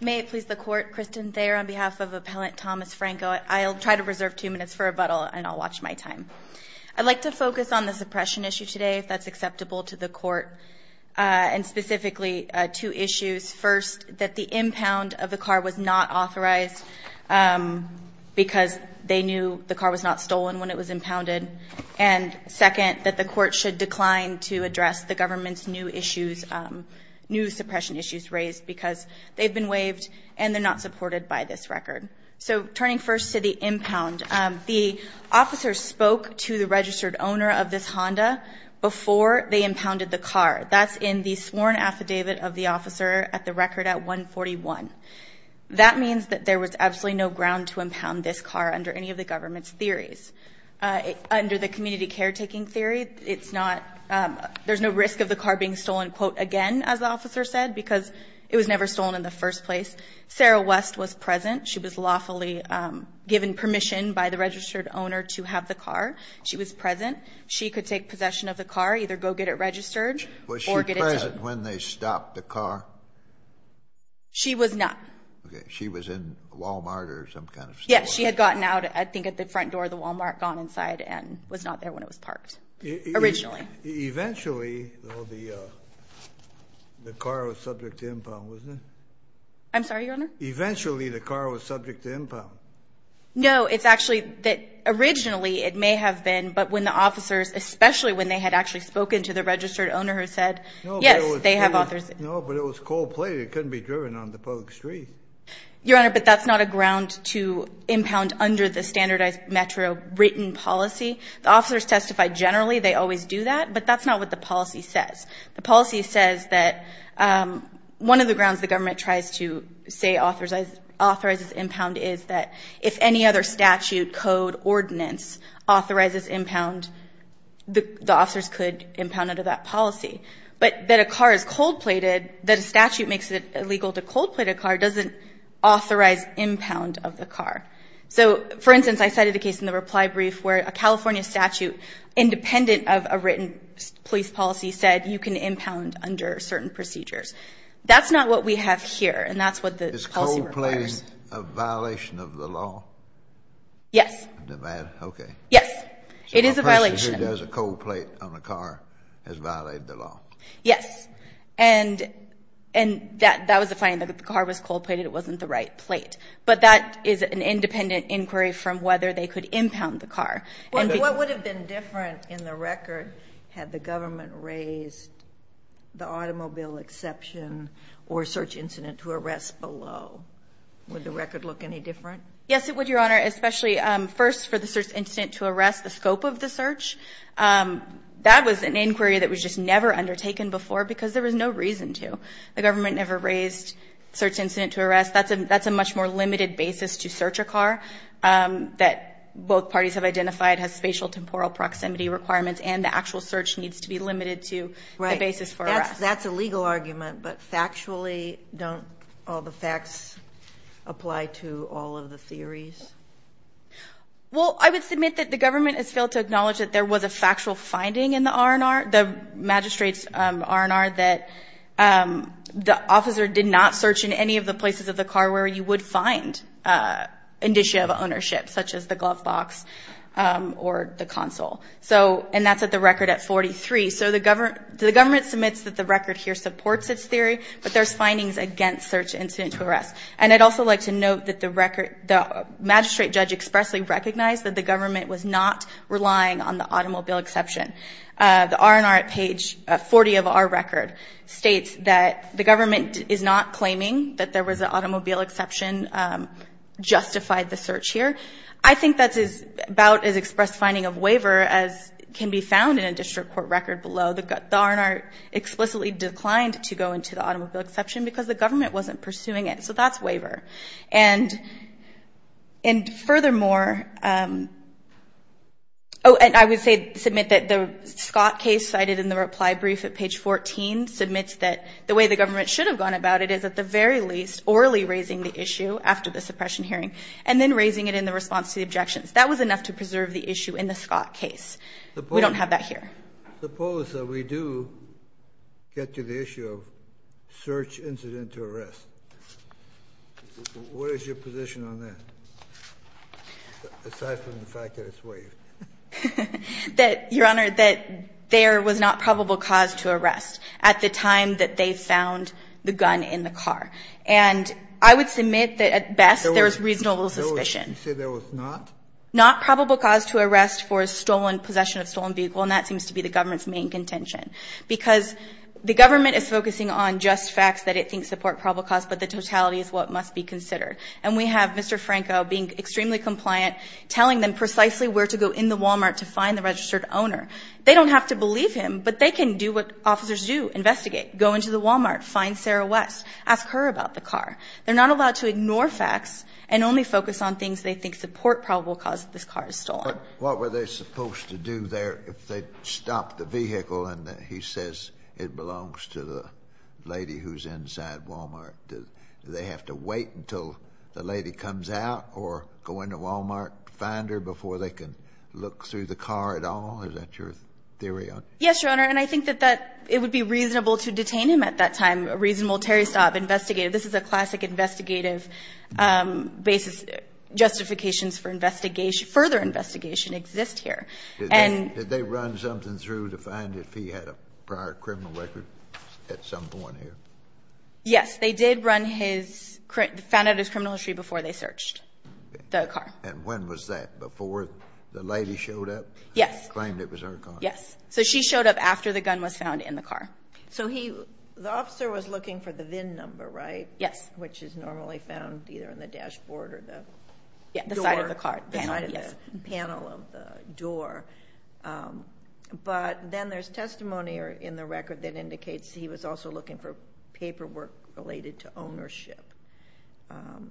May it please the Court, Kristen Thayer on behalf of Appellant Thomas Franco. I'll try to reserve two minutes for rebuttal and I'll watch my time. I'd like to focus on the suppression issue today, if that's acceptable to the Court, and specifically two issues. First, that the impound of the car was not authorized because they knew the car was not stolen when it was impounded. And second, that the Court should decline to address the government's new suppression issues raised because they've been waived and they're not supported by this record. So turning first to the impound, the officer spoke to the registered owner of this Honda before they impounded the car. That's in the sworn affidavit of the officer at the record at 141. That means that there was absolutely no ground to impound this car under any of the government's theories. Under the community caretaking theory, it's not – there's no risk of the car being stolen, quote, again, as the officer said, because it was never stolen in the first place. Sarah West was present. She was lawfully given permission by the registered owner to have the car. She was present. She could take possession of the car, either go get it registered or get it towed. Was she present when they stopped the car? She was not. Okay. She was in Wal-Mart or some kind of store? Yes. She had gotten out, I think, at the front door of the Wal-Mart, gone inside, and was not there when it was parked originally. Eventually, though, the car was subject to impound, wasn't it? I'm sorry, Your Honor? Eventually, the car was subject to impound. No. It's actually that originally it may have been, but when the officers, especially when they had actually spoken to the registered owner who said, yes, they have authors. No, but it was cold plate. It couldn't be driven on the public street. Your Honor, but that's not a ground to impound under the standardized metro written policy. The officers testify generally. They always do that, but that's not what the policy says. The policy says that one of the grounds the government tries to say authorizes impound is that if any other statute, code, ordinance authorizes impound, the officers could impound under that policy. But that a car is cold plated, that a statute makes it illegal to cold plate a car doesn't authorize impound of the car. So, for instance, I cited a case in the reply brief where a California statute, independent of a written police policy, said you can impound under certain procedures. That's not what we have here, and that's what the policy requires. Is cold plating a violation of the law? Yes. Okay. Yes. It is a violation. So a person who does a cold plate on a car has violated the law. Yes. And that was the finding, that the car was cold plated. It wasn't the right plate. But that is an independent inquiry from whether they could impound the car. What would have been different in the record had the government raised the automobile exception or search incident to arrest below? Would the record look any different? Yes, it would, Your Honor, especially first for the search incident to arrest, the scope of the search. That was an inquiry that was just never undertaken before because there was no reason to. The government never raised search incident to arrest. That's a much more limited basis to search a car that both parties have identified has spatial temporal proximity requirements and the actual search needs to be limited to the basis for arrest. That's a legal argument, but factually, don't all the facts apply to all of the theories? Well, I would submit that the government has failed to acknowledge that there was a factual finding in the R&R, the magistrate's R&R, that the officer did not search in any of the places of the car where you would find indicia of ownership, such as the glove box or the console. And that's at the record at 43. So the government submits that the record here supports its theory, but there's findings against search incident to arrest. And I'd also like to note that the magistrate judge expressly recognized that the government was not relying on the automobile exception. The R&R at page 40 of our record states that the government is not claiming that there was an automobile exception justified the search here. I think that's about as expressed finding of waiver as can be found in a district court record below. The R&R explicitly declined to go into the automobile exception because the government wasn't pursuing it. So that's waiver. And furthermore, I would submit that the Scott case cited in the reply brief at page 14 submits that the way the government should have gone about it is at the very least, orally raising the issue after the suppression hearing and then raising it in the response to the objections. That was enough to preserve the issue in the Scott case. We don't have that here. Kennedy, suppose that we do get to the issue of search incident to arrest. What is your position on that, aside from the fact that it's waived? Your Honor, that there was not probable cause to arrest at the time that they found the gun in the car. And I would submit that at best there was reasonable suspicion. You said there was not? Not probable cause to arrest for a stolen possession of a stolen vehicle. And that seems to be the government's main contention. Because the government is focusing on just facts that it thinks support probable cause, but the totality is what must be considered. And we have Mr. Franco being extremely compliant, telling them precisely where to go in the Walmart to find the registered owner. They don't have to believe him, but they can do what officers do, investigate, go into the Walmart, find Sarah West, ask her about the car. They're not allowed to ignore facts and only focus on things they think support probable cause that this car is stolen. But what were they supposed to do there if they stopped the vehicle and he says it belongs to the lady who's inside Walmart? Do they have to wait until the lady comes out or go into Walmart to find her before they can look through the car at all? Is that your theory? Yes, Your Honor. And I think that it would be reasonable to detain him at that time, a reasonable Terry Stobb investigative. This is a classic investigative basis, justifications for further investigation exist here. Did they run something through to find if he had a prior criminal record at some point here? Yes. They did run his, found out his criminal history before they searched the car. And when was that? Before the lady showed up? Yes. Claimed it was her car? Yes. So she showed up after the gun was found in the car. So he, the officer was looking for the VIN number, right? Yes. Which is normally found either in the dashboard or the door. Yeah, the side of the car. The side of the panel of the door. But then there's testimony in the record that indicates he was also looking for paperwork related to ownership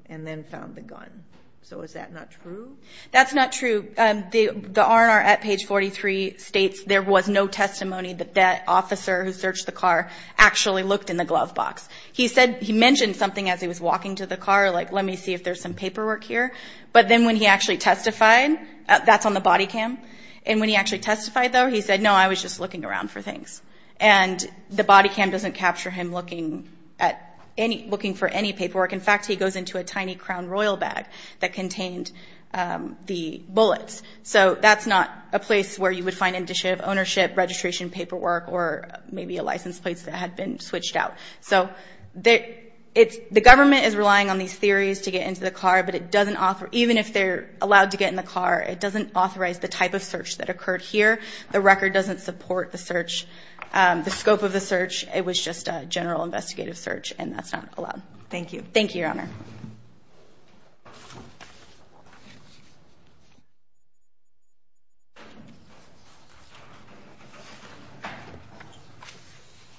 and then found the gun. So is that not true? That's not true. The R&R at page 43 states there was no testimony that that officer who searched the car actually looked in the glove box. He said, he mentioned something as he was walking to the car, like, let me see if there's some paperwork here. But then when he actually testified, that's on the body cam. And when he actually testified, though, he said, no, I was just looking around for things. And the body cam doesn't capture him looking at any, looking for any paperwork. In fact, he goes into a tiny Crown Royal bag that contained the bullets. So that's not a place where you would find initiative ownership, registration paperwork, or maybe a license plate that had been switched out. So the government is relying on these theories to get into the car, but it doesn't authorize, even if they're allowed to get in the car, it doesn't authorize the type of search that occurred here. The record doesn't support the search, the scope of the search. It was just a general investigative search, and that's not allowed. Thank you. Thank you, Your Honor. Good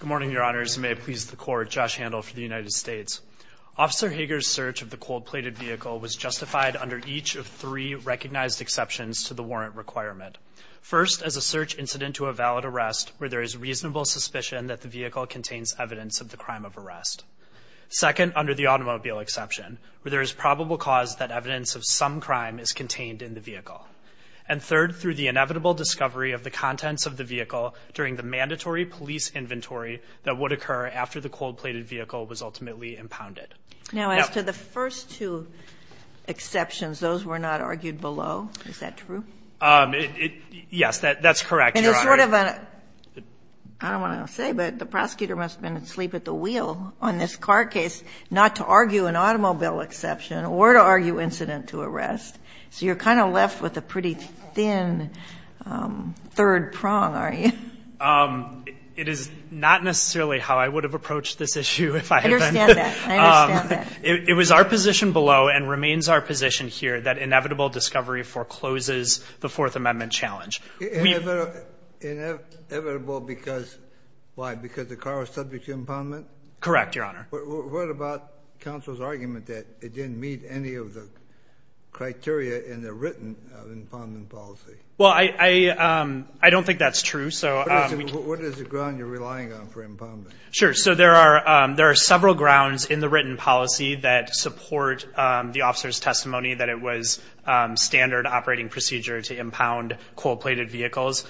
morning, Your Honors. May it please the Court, Josh Handel for the United States. Officer Hager's search of the cold-plated vehicle was justified under each of three recognized exceptions to the warrant requirement. First, as a search incident to a valid arrest where there is reasonable suspicion that the vehicle contains evidence of the crime of arrest. Second, under the automobile exception, where there is probable cause that evidence of some crime is contained in the vehicle. And third, through the inevitable discovery of the contents of the vehicle during the mandatory police inventory that would occur after the cold-plated vehicle was ultimately impounded. Now, as to the first two exceptions, those were not argued below. Is that true? Yes, that's correct, Your Honor. And it's sort of a – I don't want to say, but the prosecutor must have been asleep at the wheel on this car case not to argue an automobile exception or to argue incident to arrest. So you're kind of left with a pretty thin third prong, aren't you? It is not necessarily how I would have approached this issue if I had been. I understand that. I understand that. It was our position below and remains our position here that inevitable discovery forecloses the Fourth Amendment challenge. Inevitable because why? Because the car was subject to impoundment? Correct, Your Honor. What about counsel's argument that it didn't meet any of the criteria in the written impoundment policy? Well, I don't think that's true. What is the ground you're relying on for impoundment? Sure. So there are several grounds in the written policy that support the officer's procedure to impound cold-plated vehicles.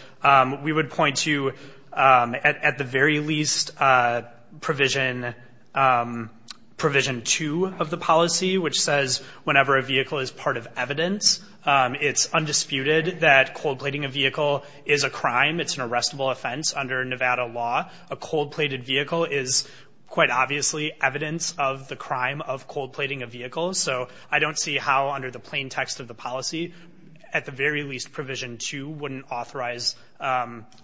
We would point to, at the very least, Provision 2 of the policy, which says whenever a vehicle is part of evidence, it's undisputed that cold-plating a vehicle is a crime. It's an arrestable offense under Nevada law. A cold-plated vehicle is quite obviously evidence of the crime of cold-plating a vehicle. So I don't see how under the plain text of the policy, at the very least, Provision 2 wouldn't authorize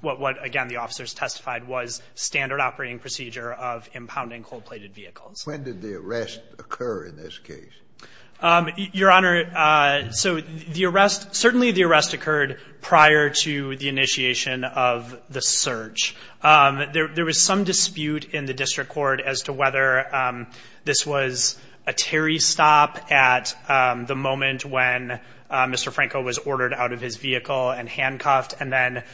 what, again, the officers testified was standard operating procedure of impounding cold-plated vehicles. When did the arrest occur in this case? Your Honor, so the arrest, certainly the arrest occurred prior to the initiation of the search. There was some dispute in the district court as to whether this was a Terry stop at the moment when Mr. Franco was ordered out of his vehicle and handcuffed and then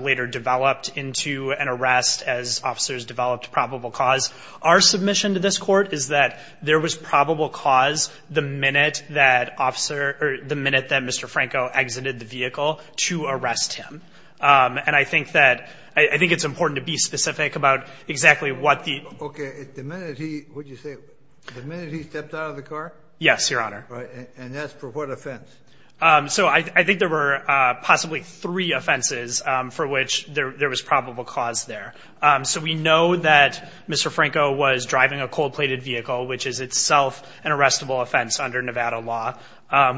later developed into an arrest as officers developed probable cause. Our submission to this court is that there was probable cause the minute that officer, or the minute that Mr. Franco exited the vehicle to arrest him. And I think that, I think it's important to be specific about exactly what the. Okay. The minute he, would you say the minute he stepped out of the car? Yes, Your Honor. And that's for what offense? So I think there were possibly three offenses for which there was probable cause there. So we know that Mr. Franco was driving a cold-plated vehicle, which is itself an arrestable offense under Nevada law.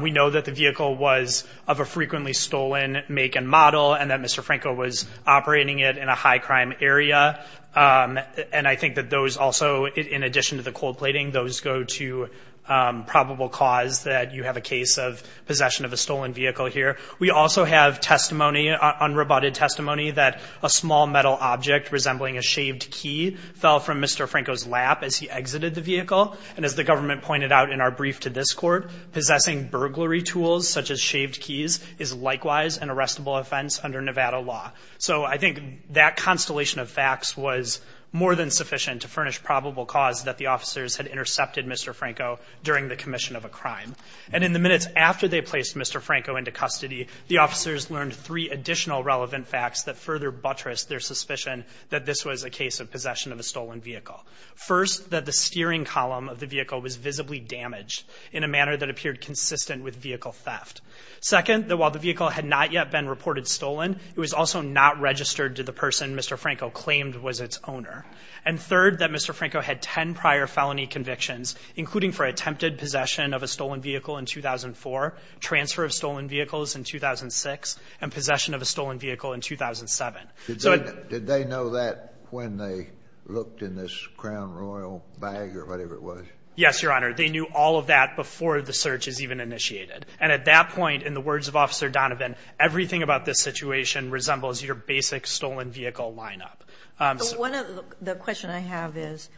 We know that the vehicle was of a frequently stolen make and model and that Mr. Franco was operating it in a high crime area. And I think that those also, in addition to the cold plating, those go to probable cause that you have a case of possession of a stolen vehicle here. We also have testimony on rebutted testimony that a small metal object resembling a shaved key fell from Mr. Franco's lap as he exited the vehicle. And as the government pointed out in our brief to this court, possessing burglary tools, such as shaved keys is likewise an arrestable offense under Nevada law. So I think that constellation of facts was more than sufficient to furnish probable cause that the officers had intercepted Mr. Franco during the commission of a crime. And in the minutes after they placed Mr. Franco into custody, the officers learned three additional relevant facts that further buttressed their suspicion that this was a case of possession of a stolen vehicle. First, that the steering column of the vehicle was visibly damaged in a manner that appeared consistent with vehicle theft. Second, that while the vehicle had not yet been reported stolen, it was also not registered to the person Mr. Franco claimed was its owner. And third, that Mr. Franco had 10 prior felony convictions, including for attempted possession of a stolen vehicle in 2004, transfer of stolen vehicles in 2006, and possession of a stolen vehicle in 2007. Did they know that when they looked in this Crown Royal bag or whatever it was? Yes, Your Honor. They knew all of that before the search is even initiated. And at that point, in the words of Officer Donovan, everything about this situation resembles your basic stolen vehicle lineup. The question I have is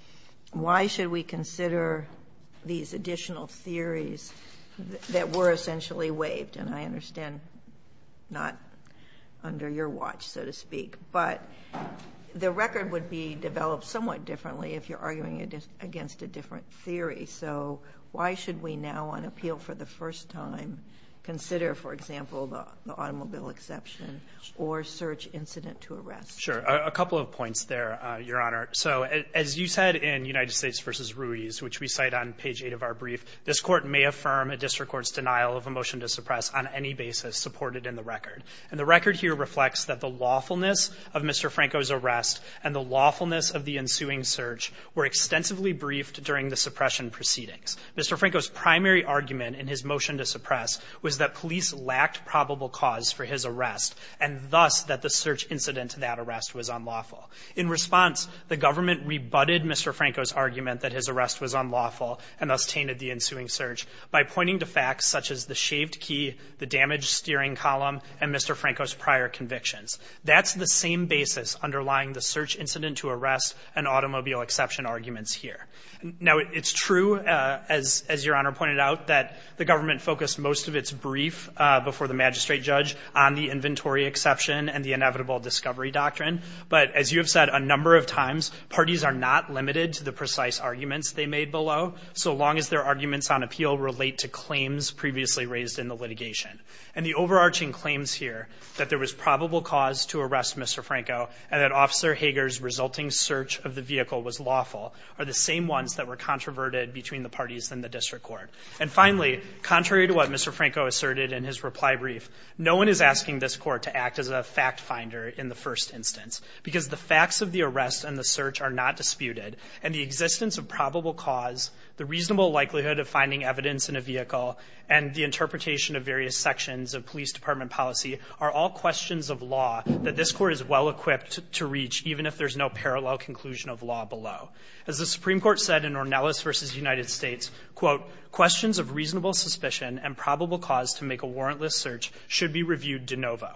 why should we consider these additional theories that were essentially waived? And I understand not under your watch, so to speak. But the record would be developed somewhat differently if you're arguing against a different theory. So why should we now on appeal for the first time consider, for example, the automobile exception or search incident to arrest? Sure. A couple of points there, Your Honor. So as you said in United States v. Ruiz, which we cite on page 8 of our brief, this court may affirm a district court's denial of a motion to suppress on any basis supported in the record. And the record here reflects that the lawfulness of Mr. Franco's arrest and the lawfulness of the ensuing search were extensively briefed during the suppression proceedings. Mr. Franco's primary argument in his motion to suppress was that police lacked probable cause for his arrest, and thus that the search incident to that arrest was unlawful. In response, the government rebutted Mr. Franco's argument that his arrest was unlawful and thus tainted the ensuing search by pointing to facts such as the shaved key, the damaged steering column, and Mr. Franco's prior convictions. That's the same basis underlying the search incident to arrest and automobile exception arguments here. Now it's true, uh, as, as your honor pointed out that the government focused most of its brief, uh, before the magistrate judge on the inventory exception and the inevitable discovery doctrine. But as you have said a number of times, parties are not limited to the precise arguments they made below. So long as their arguments on appeal relate to claims previously raised in the litigation and the overarching claims here that there was probable cause to arrest Mr. Franco and that officer Hager's resulting search of the vehicle was lawful are the same ones that were controverted between the parties in the district court. And finally, contrary to what Mr. Franco asserted in his reply brief, no one is asking this court to act as a fact finder in the first instance because the facts of the arrest and the search are not disputed. And the existence of probable cause the reasonable likelihood of finding evidence in a vehicle and the interpretation of various sections of police department policy are all questions of law that this court is well equipped to reach. Even if there's no parallel conclusion of law below, as the Supreme court said in Ornelas versus United States quote, questions of reasonable suspicion and probable cause to make a warrantless search should be reviewed de novo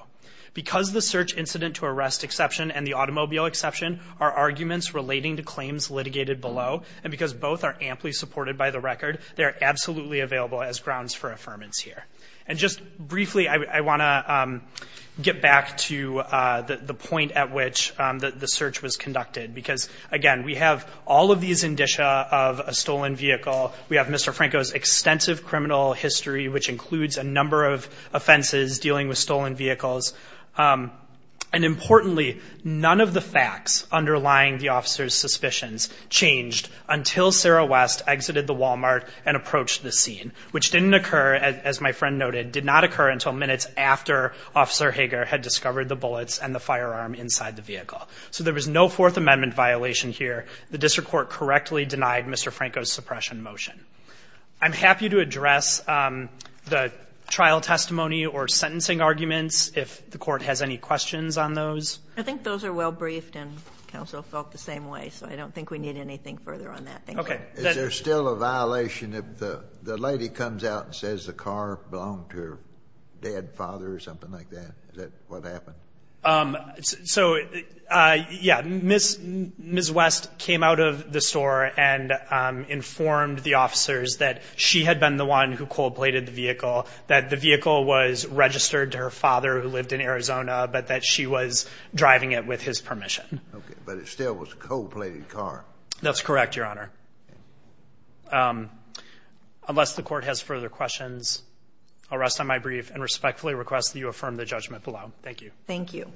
because the search incident to arrest exception and the automobile exception are arguments relating to claims litigated below. And because both are amply supported by the record, they're absolutely available as grounds for affirmance here. And just briefly, I want to get back to the point at which the search was conducted because again, we have all of these indicia of a stolen vehicle. We have Mr. Franco's extensive criminal history, which includes a number of offenses dealing with stolen vehicles. And importantly, none of the facts underlying the officer's suspicions changed until Sarah West exited the Walmart and approached the scene, which didn't occur as my friend noted, did not occur until minutes after officer Hager had discovered the bullets and the firearm inside the vehicle. So there was no fourth amendment violation here. The district court correctly denied Mr. Franco's suppression motion. I'm happy to address the trial testimony or sentencing arguments. If the court has any questions on those, I think those are well briefed and counsel felt the same way. So I don't think we need anything further on that. Okay. Is there still a violation of the, the lady comes out and says the car belonged to her dad, father or something like that? Is that what happened? Um, so, uh, yeah. Ms. Ms. West came out of the store and, um, informed the officers that she had been the one who cold plated the vehicle that the vehicle was registered to her father who lived in Arizona, but that she was driving it with his permission. Okay. But it still was cold plated car. That's correct. Your Honor. Um, unless the court has further questions, I'll rest on my brief and respectfully request that you affirm the judgment below. Thank you. Thank you.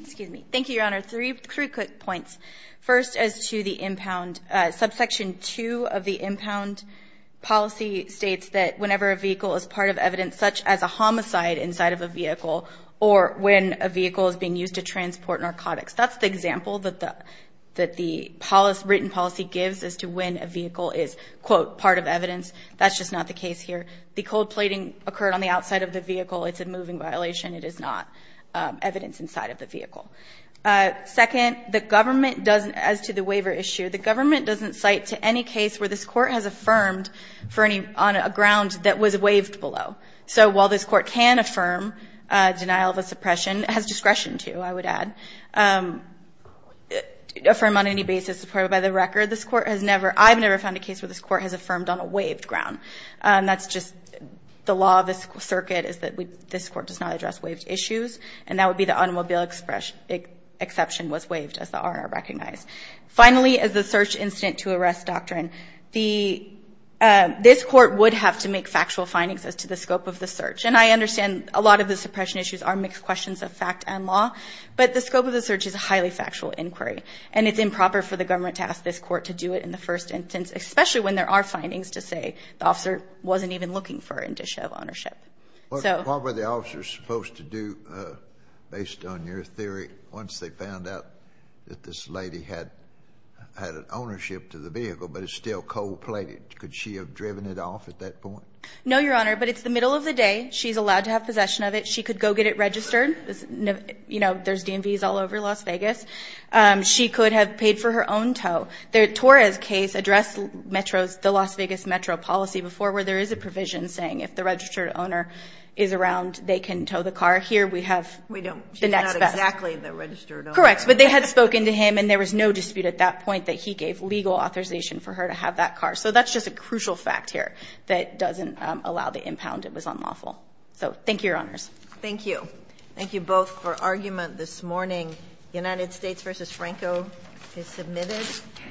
Excuse me. Thank you, Your Honor. Three, three quick points. First, as to the impound, uh, subsection two of the impound policy states that whenever a vehicle is part of evidence, such as a homicide inside of a vehicle, or when a vehicle is being used to transport narcotics, that's the example that the, that the policy written policy gives as to when a vehicle is quote part of evidence. That's just not the case here. The cold plating occurred on the outside of the vehicle. It's a moving violation. It is not, um, evidence inside of the vehicle. Uh, second, the government doesn't, as to the waiver issue, the government doesn't cite to any case where this court has affirmed for any on a ground that was waived below. So while this court can affirm, uh, denial of a suppression, it has discretion to, I would add, um, affirm on any basis supported by the record. This court has never, I've never found a case where this court has affirmed on a waived ground. Um, that's just the law of the circuit is that we, this court does not address waived issues. And that would be the automobile expression. It exception was waived as the honor recognized. Finally, as the search incident to arrest doctrine, the, uh, this court would have to make factual findings as to the scope of the search. And I understand a lot of the suppression issues are mixed questions of fact and law, but the scope of the search is a highly factual inquiry. And it's improper for the government to ask this court to do it in the first instance, especially when there are findings to say the officer wasn't even looking for an issue of ownership. So probably the officers supposed to do, uh, based on your theory, once they found out that this lady had, uh, had an ownership to the vehicle, but it's still cold plate. Could she have driven it off at that point? No, Your Honor, but it's the middle of the day. She's allowed to have possession of it. She could go get it registered. You know, there's DMVs all over Las Vegas. Um, she could have paid for her own tow. The Torres case addressed metros, the Las Vegas metro policy before where there is a provision saying if the registered owner is around, they can tow the car here. We have. We don't. She's not exactly the registered owner. Correct. But they had spoken to him and there was no dispute at that point that he gave legal authorization for her to have that car. So that's just a crucial fact here that doesn't, um, allow the impound. It was unlawful. So thank you, Your Honors. Thank you. Thank you both for argument this morning. United States versus Franco is submitted.